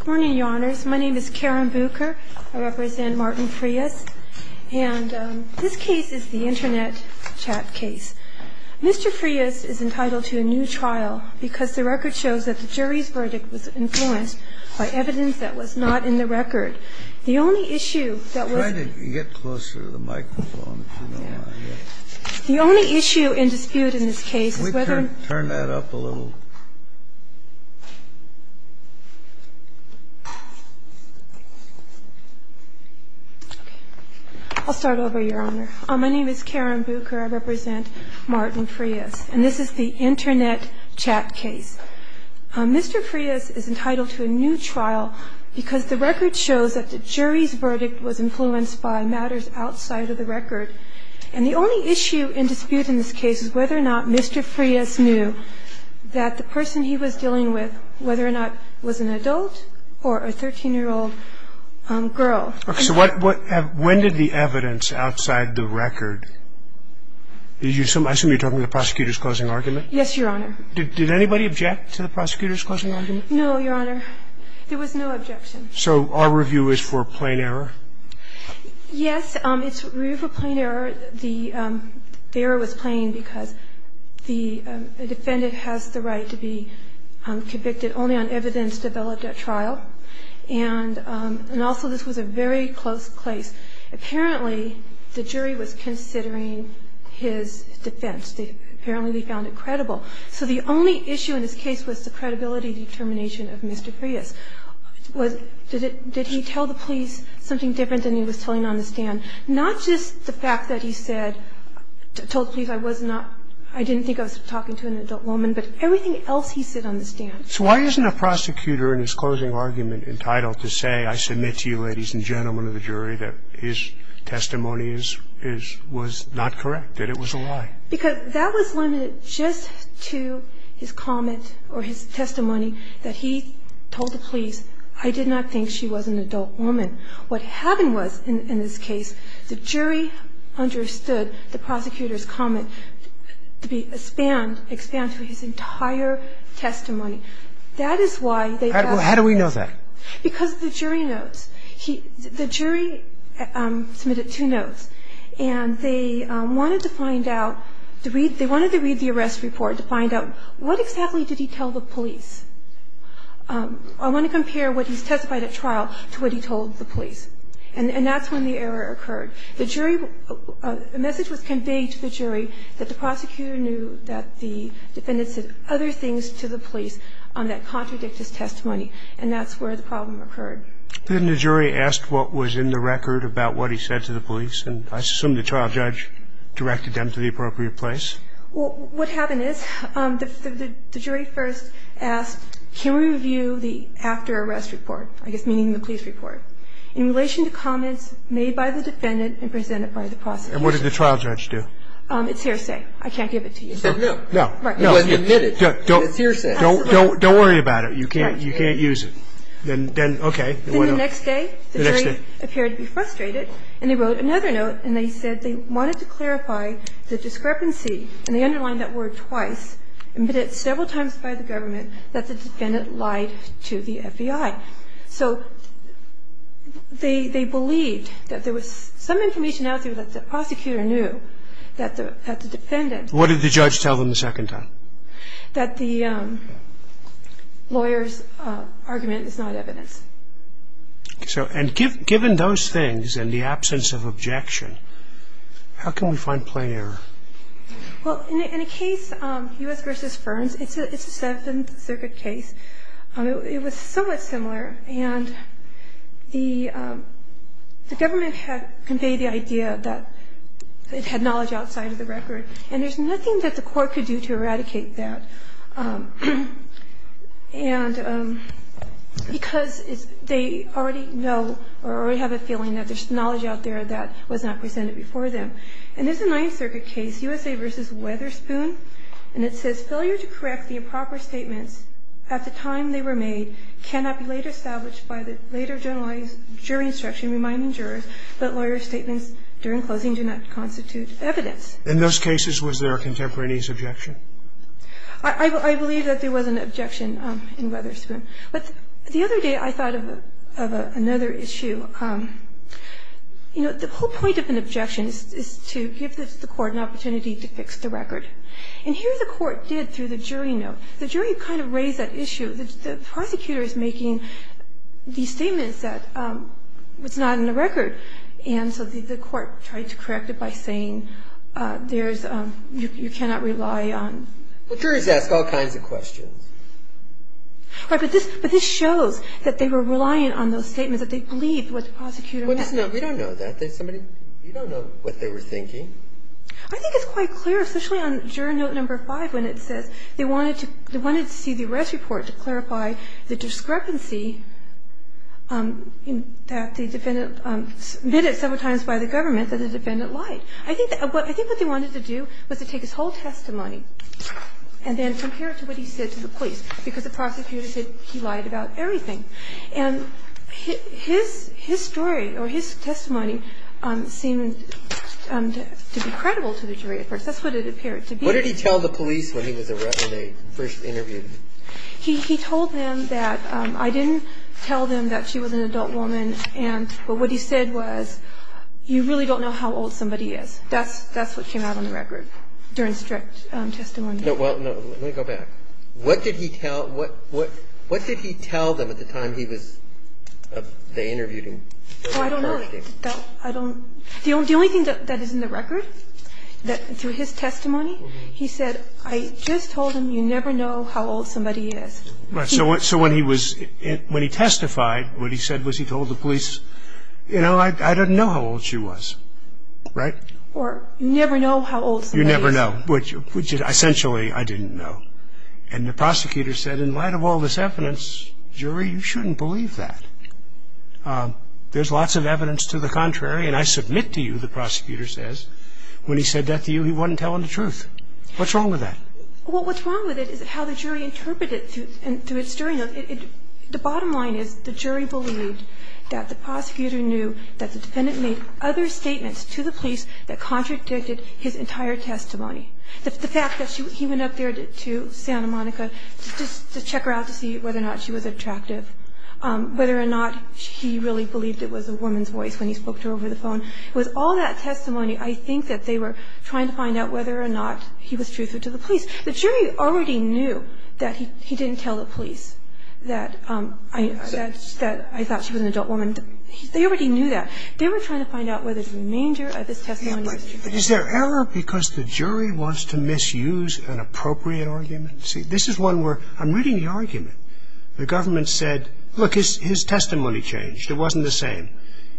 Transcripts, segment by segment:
Good morning, Your Honors. My name is Karen Buker. I represent Martin Frias, and this case is the Internet Chat case. Mr. Frias is entitled to a new trial because the record shows that the jury's verdict was influenced by evidence that was not in the record. The only issue that was- Try to get closer to the microphone, if you don't mind. The only issue in dispute in this case is whether- I'll start over, Your Honor. My name is Karen Buker. I represent Martin Frias, and this is the Internet Chat case. Mr. Frias is entitled to a new trial because the record shows that the jury's verdict was influenced by matters outside of the record. And the only issue in dispute in this case is whether or not Mr. Frias knew that the person he was dealing with, whether or not it was an adult or a 13-year-old girl. Okay. So what – when did the evidence outside the record – I assume you're talking about the prosecutor's closing argument? Yes, Your Honor. Did anybody object to the prosecutor's closing argument? No, Your Honor. There was no objection. So our review is for plain error? Yes, it's review for plain error. The error was plain because the defendant has the right to be convicted only on evidence developed at trial. And also, this was a very close case. Apparently, the jury was considering his defense. Apparently, they found it credible. So the only issue in this case was the credibility determination of Mr. Frias. Did he tell the police something different than he was telling on the stand? Not just the fact that he said – told the police I was not – I didn't think I was talking to an adult woman, but everything else he said on the stand. So why isn't a prosecutor in his closing argument entitled to say, I submit to you, ladies and gentlemen of the jury, that his testimony is – was not correct, that it was a lie? Because that was limited just to his comment or his testimony that he told the police, I did not think she was an adult woman. What happened was, in this case, the jury understood the prosecutor's comment to be expand – expand to his entire testimony. That is why they – How do we know that? Because of the jury notes. The jury submitted two notes, and they wanted to find out, to read – they wanted to read the arrest report to find out what exactly did he tell the police. I want to compare what he testified at trial to what he told the police. And that's when the error occurred. The jury – a message was conveyed to the jury that the prosecutor knew that the defendant said other things to the police that contradict his testimony, and that's where the problem occurred. Then the jury asked what was in the record about what he said to the police, and I assume the trial judge directed them to the appropriate place? Well, what happened is the jury first asked, can we review the after-arrest report, I guess meaning the police report, in relation to comments made by the defendant and presented by the prosecutor? And what did the trial judge do? It's hearsay. I can't give it to you. No. Right. It wasn't admitted. It's hearsay. Don't worry about it. You can't use it. Then, okay. Then the next day, the jury appeared to be frustrated, and they wrote another note, and they said they wanted to clarify the discrepancy, and they underlined that word twice, admitted several times by the government that the defendant lied to the FBI. So they believed that there was some information out there that the prosecutor knew that the defendant – What did the judge tell them the second time? That the lawyer's argument is not evidence. And given those things and the absence of objection, how can we find plain error? Well, in a case, U.S. v. Ferns, it's a Seventh Circuit case. It was somewhat similar, and the government had conveyed the idea that it had knowledge outside of the record, and there's nothing that the court could do to eradicate that because they already know or already have a feeling that there's knowledge out there that was not presented before them. And it's a Ninth Circuit case, U.S. v. Weatherspoon, and it says, failure to correct the improper statements at the time they were made cannot be later established by the later generalized jury instruction reminding In those cases, was there a contemporaneous objection? I believe that there was an objection in Weatherspoon. But the other day I thought of another issue. You know, the whole point of an objection is to give the court an opportunity to fix the record. And here the court did through the jury note. The jury kind of raised that issue. The prosecutor is making these statements that it's not in the record, and so the court tried to correct it by saying there's you cannot rely on. Well, juries ask all kinds of questions. Right. But this shows that they were relying on those statements, that they believed what the prosecutor was saying. We don't know that. We don't know what they were thinking. I think it's quite clear, especially on jury note number five, when it says they wanted to see the arrest report to clarify the discrepancy that the defendant submitted several times by the government that the defendant lied. I think what they wanted to do was to take his whole testimony and then compare it to what he said to the police, because the prosecutor said he lied about everything. And his story or his testimony seemed to be credible to the jury at first. That's what it appeared to be. What did he tell the police when he was arrested, when they first interviewed him? He told them that I didn't tell them that she was an adult woman, but what he said was you really don't know how old somebody is. That's what came out on the record during strict testimony. Well, let me go back. What did he tell them at the time he was they interviewed him? Oh, I don't know. I don't. The only thing that is in the record through his testimony, he said I just told him you never know how old somebody is. Right. So when he testified, what he said was he told the police, you know, I didn't know how old she was. Right? Or you never know how old somebody is. You never know, which essentially I didn't know. And the prosecutor said in light of all this evidence, jury, you shouldn't believe that. There's lots of evidence to the contrary. And I submit to you, the prosecutor says, when he said that to you, he wasn't telling the truth. What's wrong with that? Well, what's wrong with it is how the jury interpreted it through its jury. The bottom line is the jury believed that the prosecutor knew that the defendant made other statements to the police that contradicted his entire testimony. The fact that he went up there to Santa Monica just to check her out to see whether or not she was attractive, whether or not he really believed it was a woman's voice when he spoke to her over the phone. It was all that testimony. I think that they were trying to find out whether or not he was truthful to the police. The jury already knew that he didn't tell the police that I thought she was an adult woman. They already knew that. They were trying to find out whether the remainder of his testimony was true. But is there error because the jury wants to misuse an appropriate argument? This is one where I'm reading the argument. The government said, look, his testimony changed. It wasn't the same.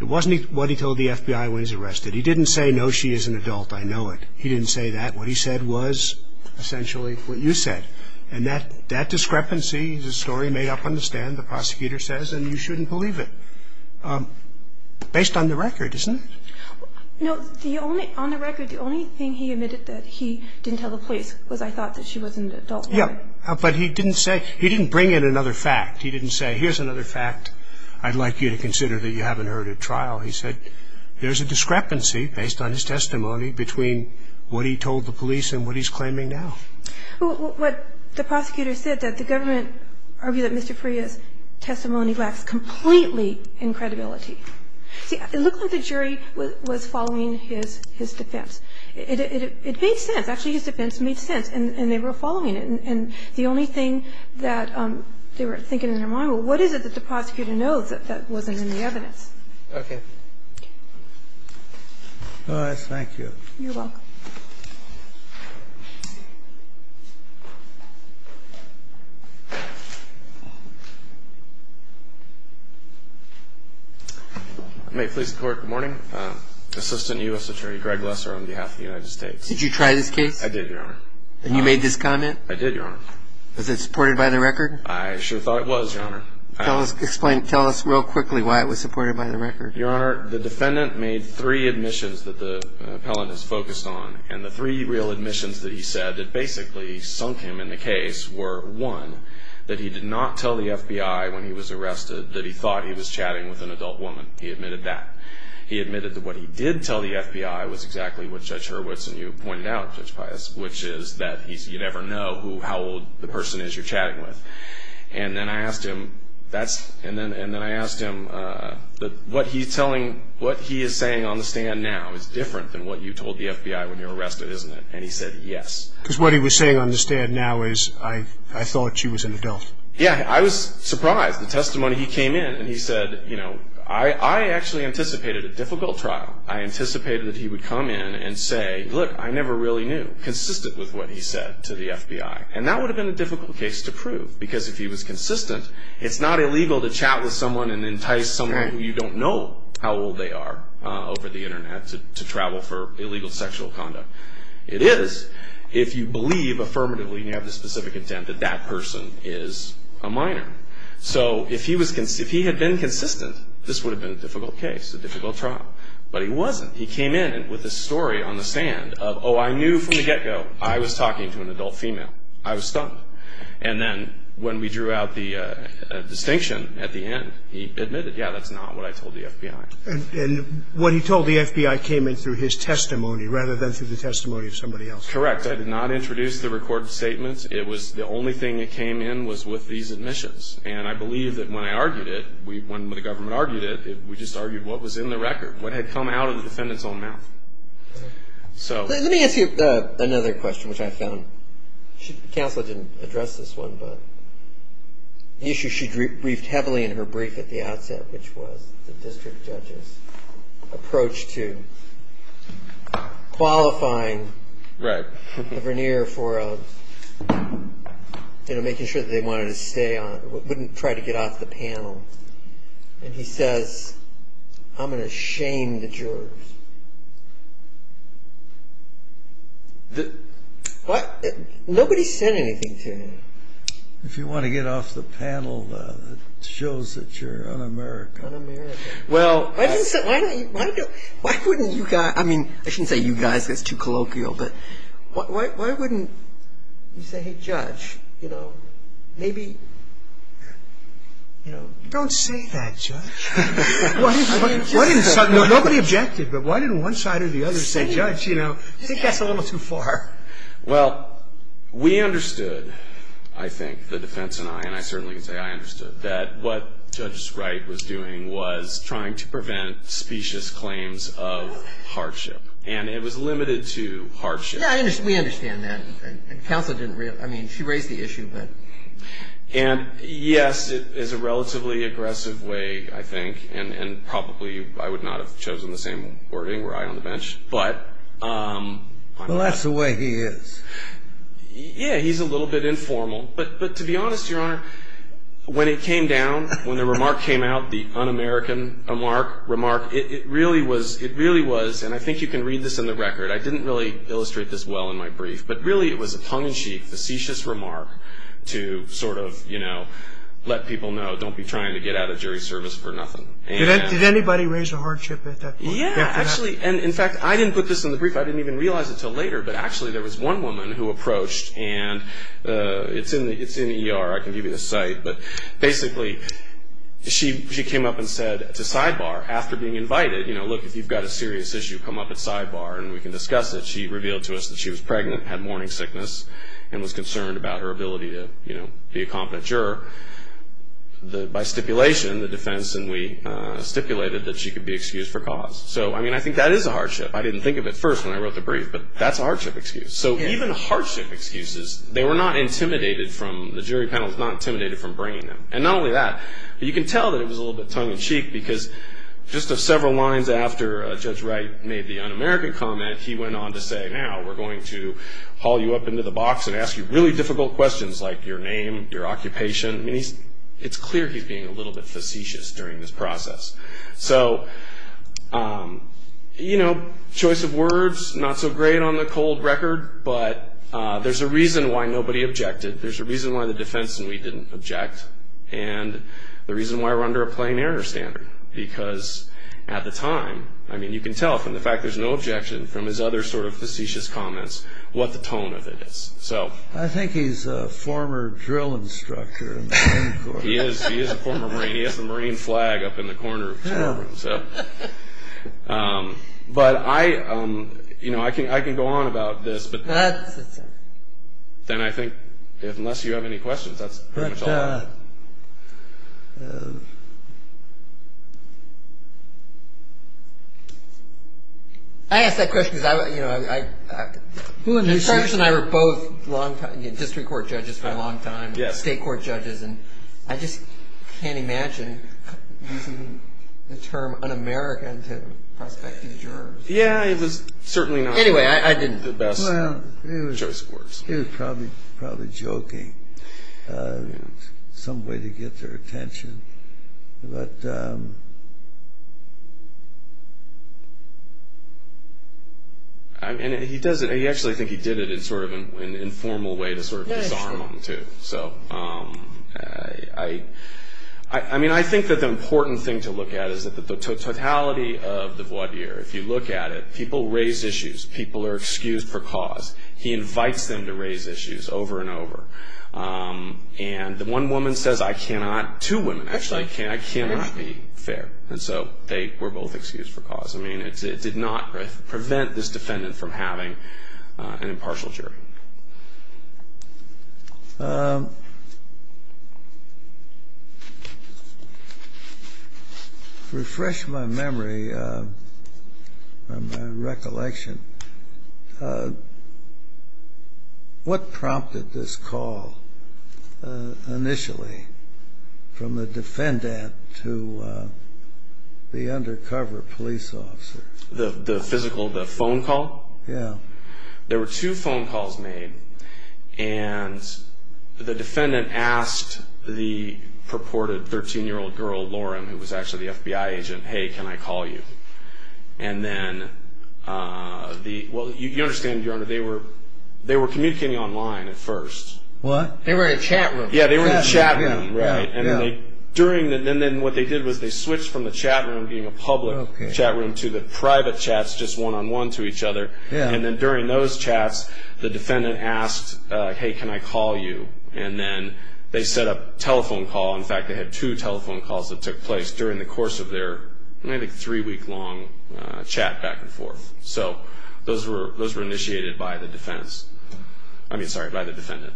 It wasn't what he told the FBI when he was arrested. He didn't say, no, she is an adult, I know it. He didn't say that. What he said was essentially what you said. And that discrepancy is a story made up on the stand, the prosecutor says, and you shouldn't believe it. Based on the record, isn't it? No. On the record, the only thing he admitted that he didn't tell the police was I thought she was an adult woman. Yeah. But he didn't say he didn't bring in another fact. He didn't say here's another fact I'd like you to consider that you haven't heard at trial. He said there's a discrepancy based on his testimony between what he told the police and what he's claiming now. What the prosecutor said, that the government argued that Mr. Freya's testimony lacks completely in credibility. See, it looked like the jury was following his defense. It made sense. Actually, his defense made sense, and they were following it. And the only thing that they were thinking in their mind, well, what is it that the prosecutor knows that wasn't in the evidence? Okay. All right. Thank you. You're welcome. May it please the Court. Good morning. Assistant U.S. Attorney Greg Lesser on behalf of the United States. Did you try this case? I did, Your Honor. And you made this comment? I did, Your Honor. Was it supported by the record? I sure thought it was, Your Honor. Tell us real quickly why it was supported by the record. Your Honor, the defendant made three admissions that the appellant has focused on, and the three real admissions that he said that basically sunk him in the case were, one, that he did not tell the FBI when he was arrested that he thought he was chatting with an adult woman. He admitted that. And what he did tell the FBI was exactly what Judge Hurwitz and you pointed out, Judge Pius, which is that you never know how old the person is you're chatting with. And then I asked him, what he is saying on the stand now is different than what you told the FBI when you were arrested, isn't it? And he said, yes. Because what he was saying on the stand now is, I thought she was an adult. Yeah, I was surprised. The testimony he came in and he said, you know, I actually anticipated a difficult trial. I anticipated that he would come in and say, look, I never really knew, consistent with what he said to the FBI. And that would have been a difficult case to prove because if he was consistent, it's not illegal to chat with someone and entice someone who you don't know how old they are over the Internet to travel for illegal sexual conduct. It is if you believe affirmatively and you have the specific intent that that person is a minor. So if he had been consistent, this would have been a difficult case, a difficult trial. But he wasn't. He came in with a story on the stand of, oh, I knew from the get-go I was talking to an adult female. I was stumped. And then when we drew out the distinction at the end, he admitted, yeah, that's not what I told the FBI. And what he told the FBI came in through his testimony rather than through the testimony of somebody else. Correct. I did not introduce the recorded statements. It was the only thing that came in was with these admissions. And I believe that when I argued it, when the government argued it, we just argued what was in the record, what had come out of the defendant's own mouth. Let me ask you another question, which I found. Counsel didn't address this one, but the issue she briefed heavily in her brief at the outset, which was the district judge's approach to qualifying the veneer for making sure that they wanted to stay on, wouldn't try to get off the panel. And he says, I'm going to shame the jurors. What? Nobody said anything to him. If you want to get off the panel, it shows that you're un-American. Un-American. Why didn't you guys, I mean, I shouldn't say you guys. That's too colloquial. But why wouldn't you say, hey, Judge, you know, maybe, you know. Don't say that, Judge. Nobody objected, but why didn't one side or the other say, Judge, you know. I think that's a little too far. Well, we understood, I think, the defense and I, and I certainly can say I understood, that what Judge Wright was doing was trying to prevent specious claims of hardship. And it was limited to hardship. Yeah, we understand that. Counsel didn't, I mean, she raised the issue, but. And, yes, it is a relatively aggressive way, I think. And probably I would not have chosen the same wording were I on the bench. Well, that's the way he is. Yeah, he's a little bit informal. But to be honest, Your Honor, when it came down, when the remark came out, the un-American remark, it really was, and I think you can read this in the record. I didn't really illustrate this well in my brief. But really it was a tongue-in-cheek, facetious remark to sort of, you know, let people know, don't be trying to get out of jury service for nothing. Did anybody raise a hardship at that point? Yeah, actually. And, in fact, I didn't put this in the brief. I didn't even realize it until later. But actually there was one woman who approached, and it's in the ER. I can give you the site. But basically she came up and said to Sidebar, after being invited, you know, look, if you've got a serious issue, come up at Sidebar and we can discuss it. She revealed to us that she was pregnant, had morning sickness, and was concerned about her ability to, you know, be a competent juror. By stipulation, the defense and we stipulated that she could be excused for cause. So, I mean, I think that is a hardship. I didn't think of it first when I wrote the brief, but that's a hardship excuse. So even hardship excuses, they were not intimidated from, the jury panel was not intimidated from bringing them. And not only that, but you can tell that it was a little bit tongue-in-cheek because just several lines after Judge Wright made the un-American comment, he went on to say, now we're going to haul you up into the box and ask you really difficult questions like your name, your occupation. I mean, it's clear he's being a little bit facetious during this process. So, you know, choice of words, not so great on the cold record, but there's a reason why nobody objected. There's a reason why the defense and we didn't object. And the reason why we're under a plain error standard. Because at the time, I mean, you can tell from the fact there's no objection, from his other sort of facetious comments, what the tone of it is. I think he's a former drill instructor in the Marine Corps. He is, he is a former Marine. He has the Marine flag up in the corner of his courtroom. But I, you know, I can go on about this, but then I think, unless you have any questions, that's pretty much all I have. I asked that question because I, you know, I, I, Mr. Patterson and I were both long time, you know, district court judges for a long time, state court judges, and I just can't imagine using the term un-American to prospect a juror. Yeah, it was certainly not the best choice of words. He was probably, probably joking. Some way to get their attention. But... I mean, he does it, I actually think he did it in sort of an informal way to sort of disarm him too. So, I, I mean, I think that the important thing to look at is that the totality of the voir dire, if you look at it, people raise issues, people are excused for cause. He invites them to raise issues over and over. And the one woman says, I cannot, two women actually, I cannot be fair. And so they were both excused for cause. I mean, it did not prevent this defendant from having an impartial jury. Refresh my memory, my recollection. What prompted this call initially from the defendant to the undercover police officer? The physical, the phone call? Yeah. There were two phone calls made. And the defendant asked the purported 13-year-old girl, Lauren, who was actually the FBI agent, hey, can I call you? And then the, well, you understand, Your Honor, they were, they were communicating online at first. What? They were in a chat room. Yeah, they were in a chat room, right? Yeah, yeah. And they, during the, and then what they did was they switched from the chat room being a public chat room to the private chats, just one-on-one to each other. And then during those chats, the defendant asked, hey, can I call you? And then they set up a telephone call. In fact, they had two telephone calls that took place during the course of their, I think, three-week-long chat back and forth. So those were initiated by the defense. I mean, sorry, by the defendant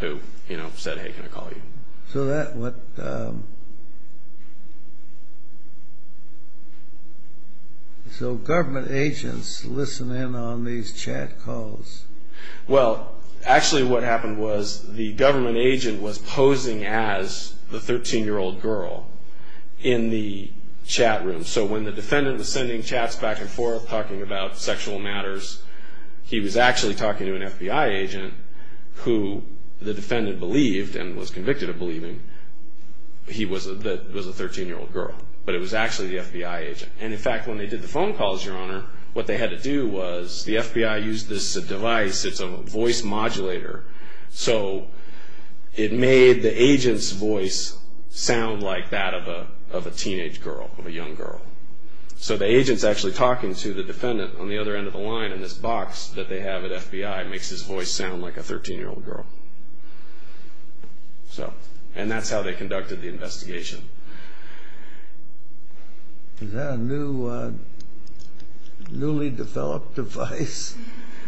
who, you know, said, hey, can I call you? So that went, so government agents listen in on these chat calls. Well, actually what happened was the government agent was posing as the 13-year-old girl in the chat room. So when the defendant was sending chats back and forth talking about sexual matters, he was actually talking to an FBI agent who the defendant believed and was convicted of believing he was a 13-year-old girl. But it was actually the FBI agent. And, in fact, when they did the phone calls, Your Honor, what they had to do was the FBI used this device. It's a voice modulator. So it made the agent's voice sound like that of a teenage girl, of a young girl. So the agent's actually talking to the defendant on the other end of the line, and this box that they have at FBI makes his voice sound like a 13-year-old girl. And that's how they conducted the investigation. Is that a newly developed device?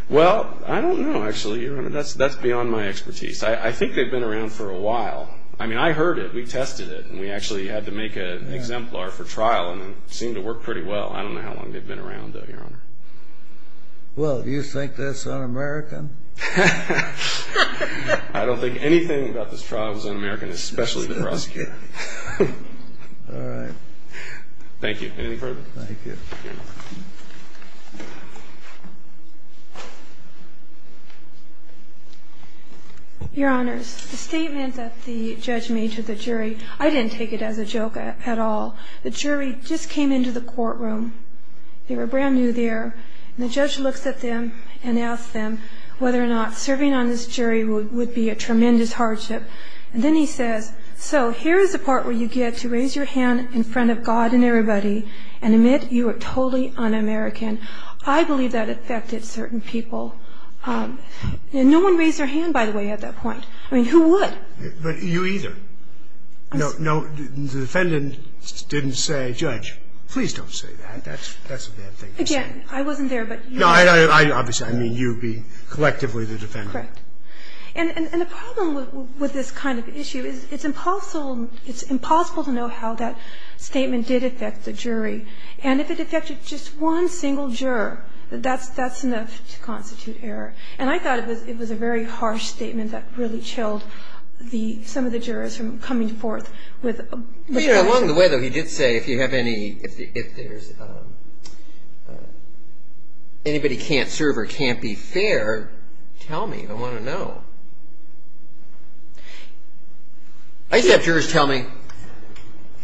Well, I don't know, actually, Your Honor. That's beyond my expertise. I think they've been around for a while. I mean, I heard it. We tested it. And we actually had to make an exemplar for trial, and it seemed to work pretty well. I don't know how long they've been around, though, Your Honor. Well, do you think that's un-American? I don't think anything about this trial is un-American, especially the prosecutor. All right. Thank you. Anything further? Thank you. Your Honors, the statement that the judge made to the jury, I didn't take it as a joke at all. The jury just came into the courtroom. They were brand new there. And the judge looks at them and asks them whether or not serving on this jury would be a tremendous hardship. And then he says, So here's the part where you get to raise your hand in front of God and everybody and admit you are totally un-American. I believe that affected certain people. No one raised their hand, by the way, at that point. I mean, who would? But you either. No, the defendant didn't say, Judge, please don't say that. That's a bad thing to say. Again, I wasn't there, but you were. No, obviously, I mean you being collectively the defendant. Correct. And the problem with this kind of issue is it's impossible to know how that statement did affect the jury. And if it affected just one single juror, that's enough to constitute error. And I thought it was a very harsh statement that really chilled some of the jurors from coming forth with questions. Along the way, though, he did say if anybody can't serve or can't be fair, tell me. I want to know. I used to have jurors tell me,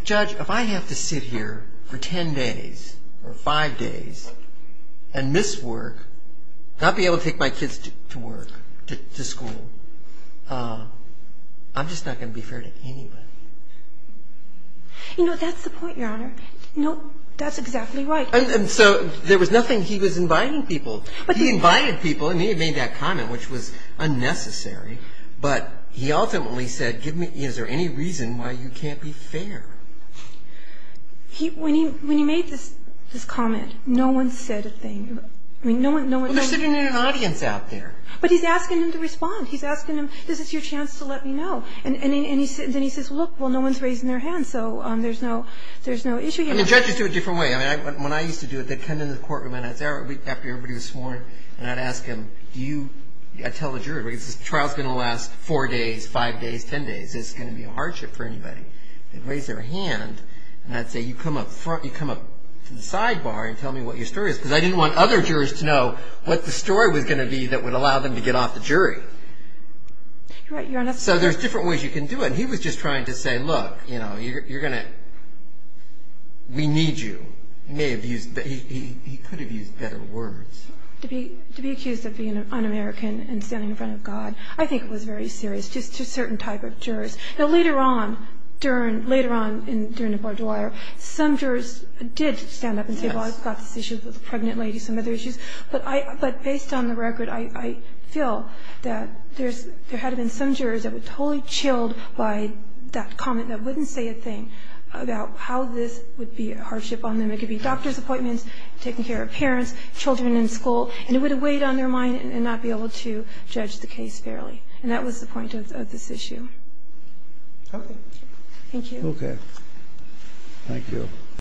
Judge, if I have to sit here for ten days or five days and miss work, not be able to take my kids to work, to school, I'm just not going to be fair to anybody. You know, that's the point, Your Honor. That's exactly right. And so there was nothing. He was inviting people. He invited people, and he had made that comment, which was unnecessary. But he ultimately said, is there any reason why you can't be fair? When he made this comment, no one said a thing. I mean, no one said anything. Well, they're sitting in an audience out there. But he's asking them to respond. He's asking them, this is your chance to let me know. And then he says, look, well, no one's raising their hand, so there's no issue here. I mean, judges do it a different way. I mean, when I used to do it, they'd come into the courtroom, and after everybody was sworn, and I'd ask them, do you – I'd tell the juror, the trial's going to last four days, five days, ten days. Is this going to be a hardship for anybody? They'd raise their hand, and I'd say, you come up to the sidebar and tell me what your story is, because I didn't want other jurors to know what the story was going to be that would allow them to get off the jury. So there's different ways you can do it. And he was just trying to say, look, you're going to – we need you. He may have used – he could have used better words. To be accused of being un-American and standing in front of God, I think it was very serious, just to certain type of jurors. Now, later on, during – later on, during the court of lawyer, some jurors did stand up and say, well, I've got this issue with a pregnant lady, some other issues. But I – but based on the record, I feel that there's – there had to have been some jurors that were totally chilled by that comment that wouldn't say a thing about how this would be a hardship on them. It could be doctor's appointments, taking care of parents, children in school, and it would have weighed on their mind and not be able to judge the case fairly. And that was the point of this issue. Okay. Thank you. Okay. Thank you.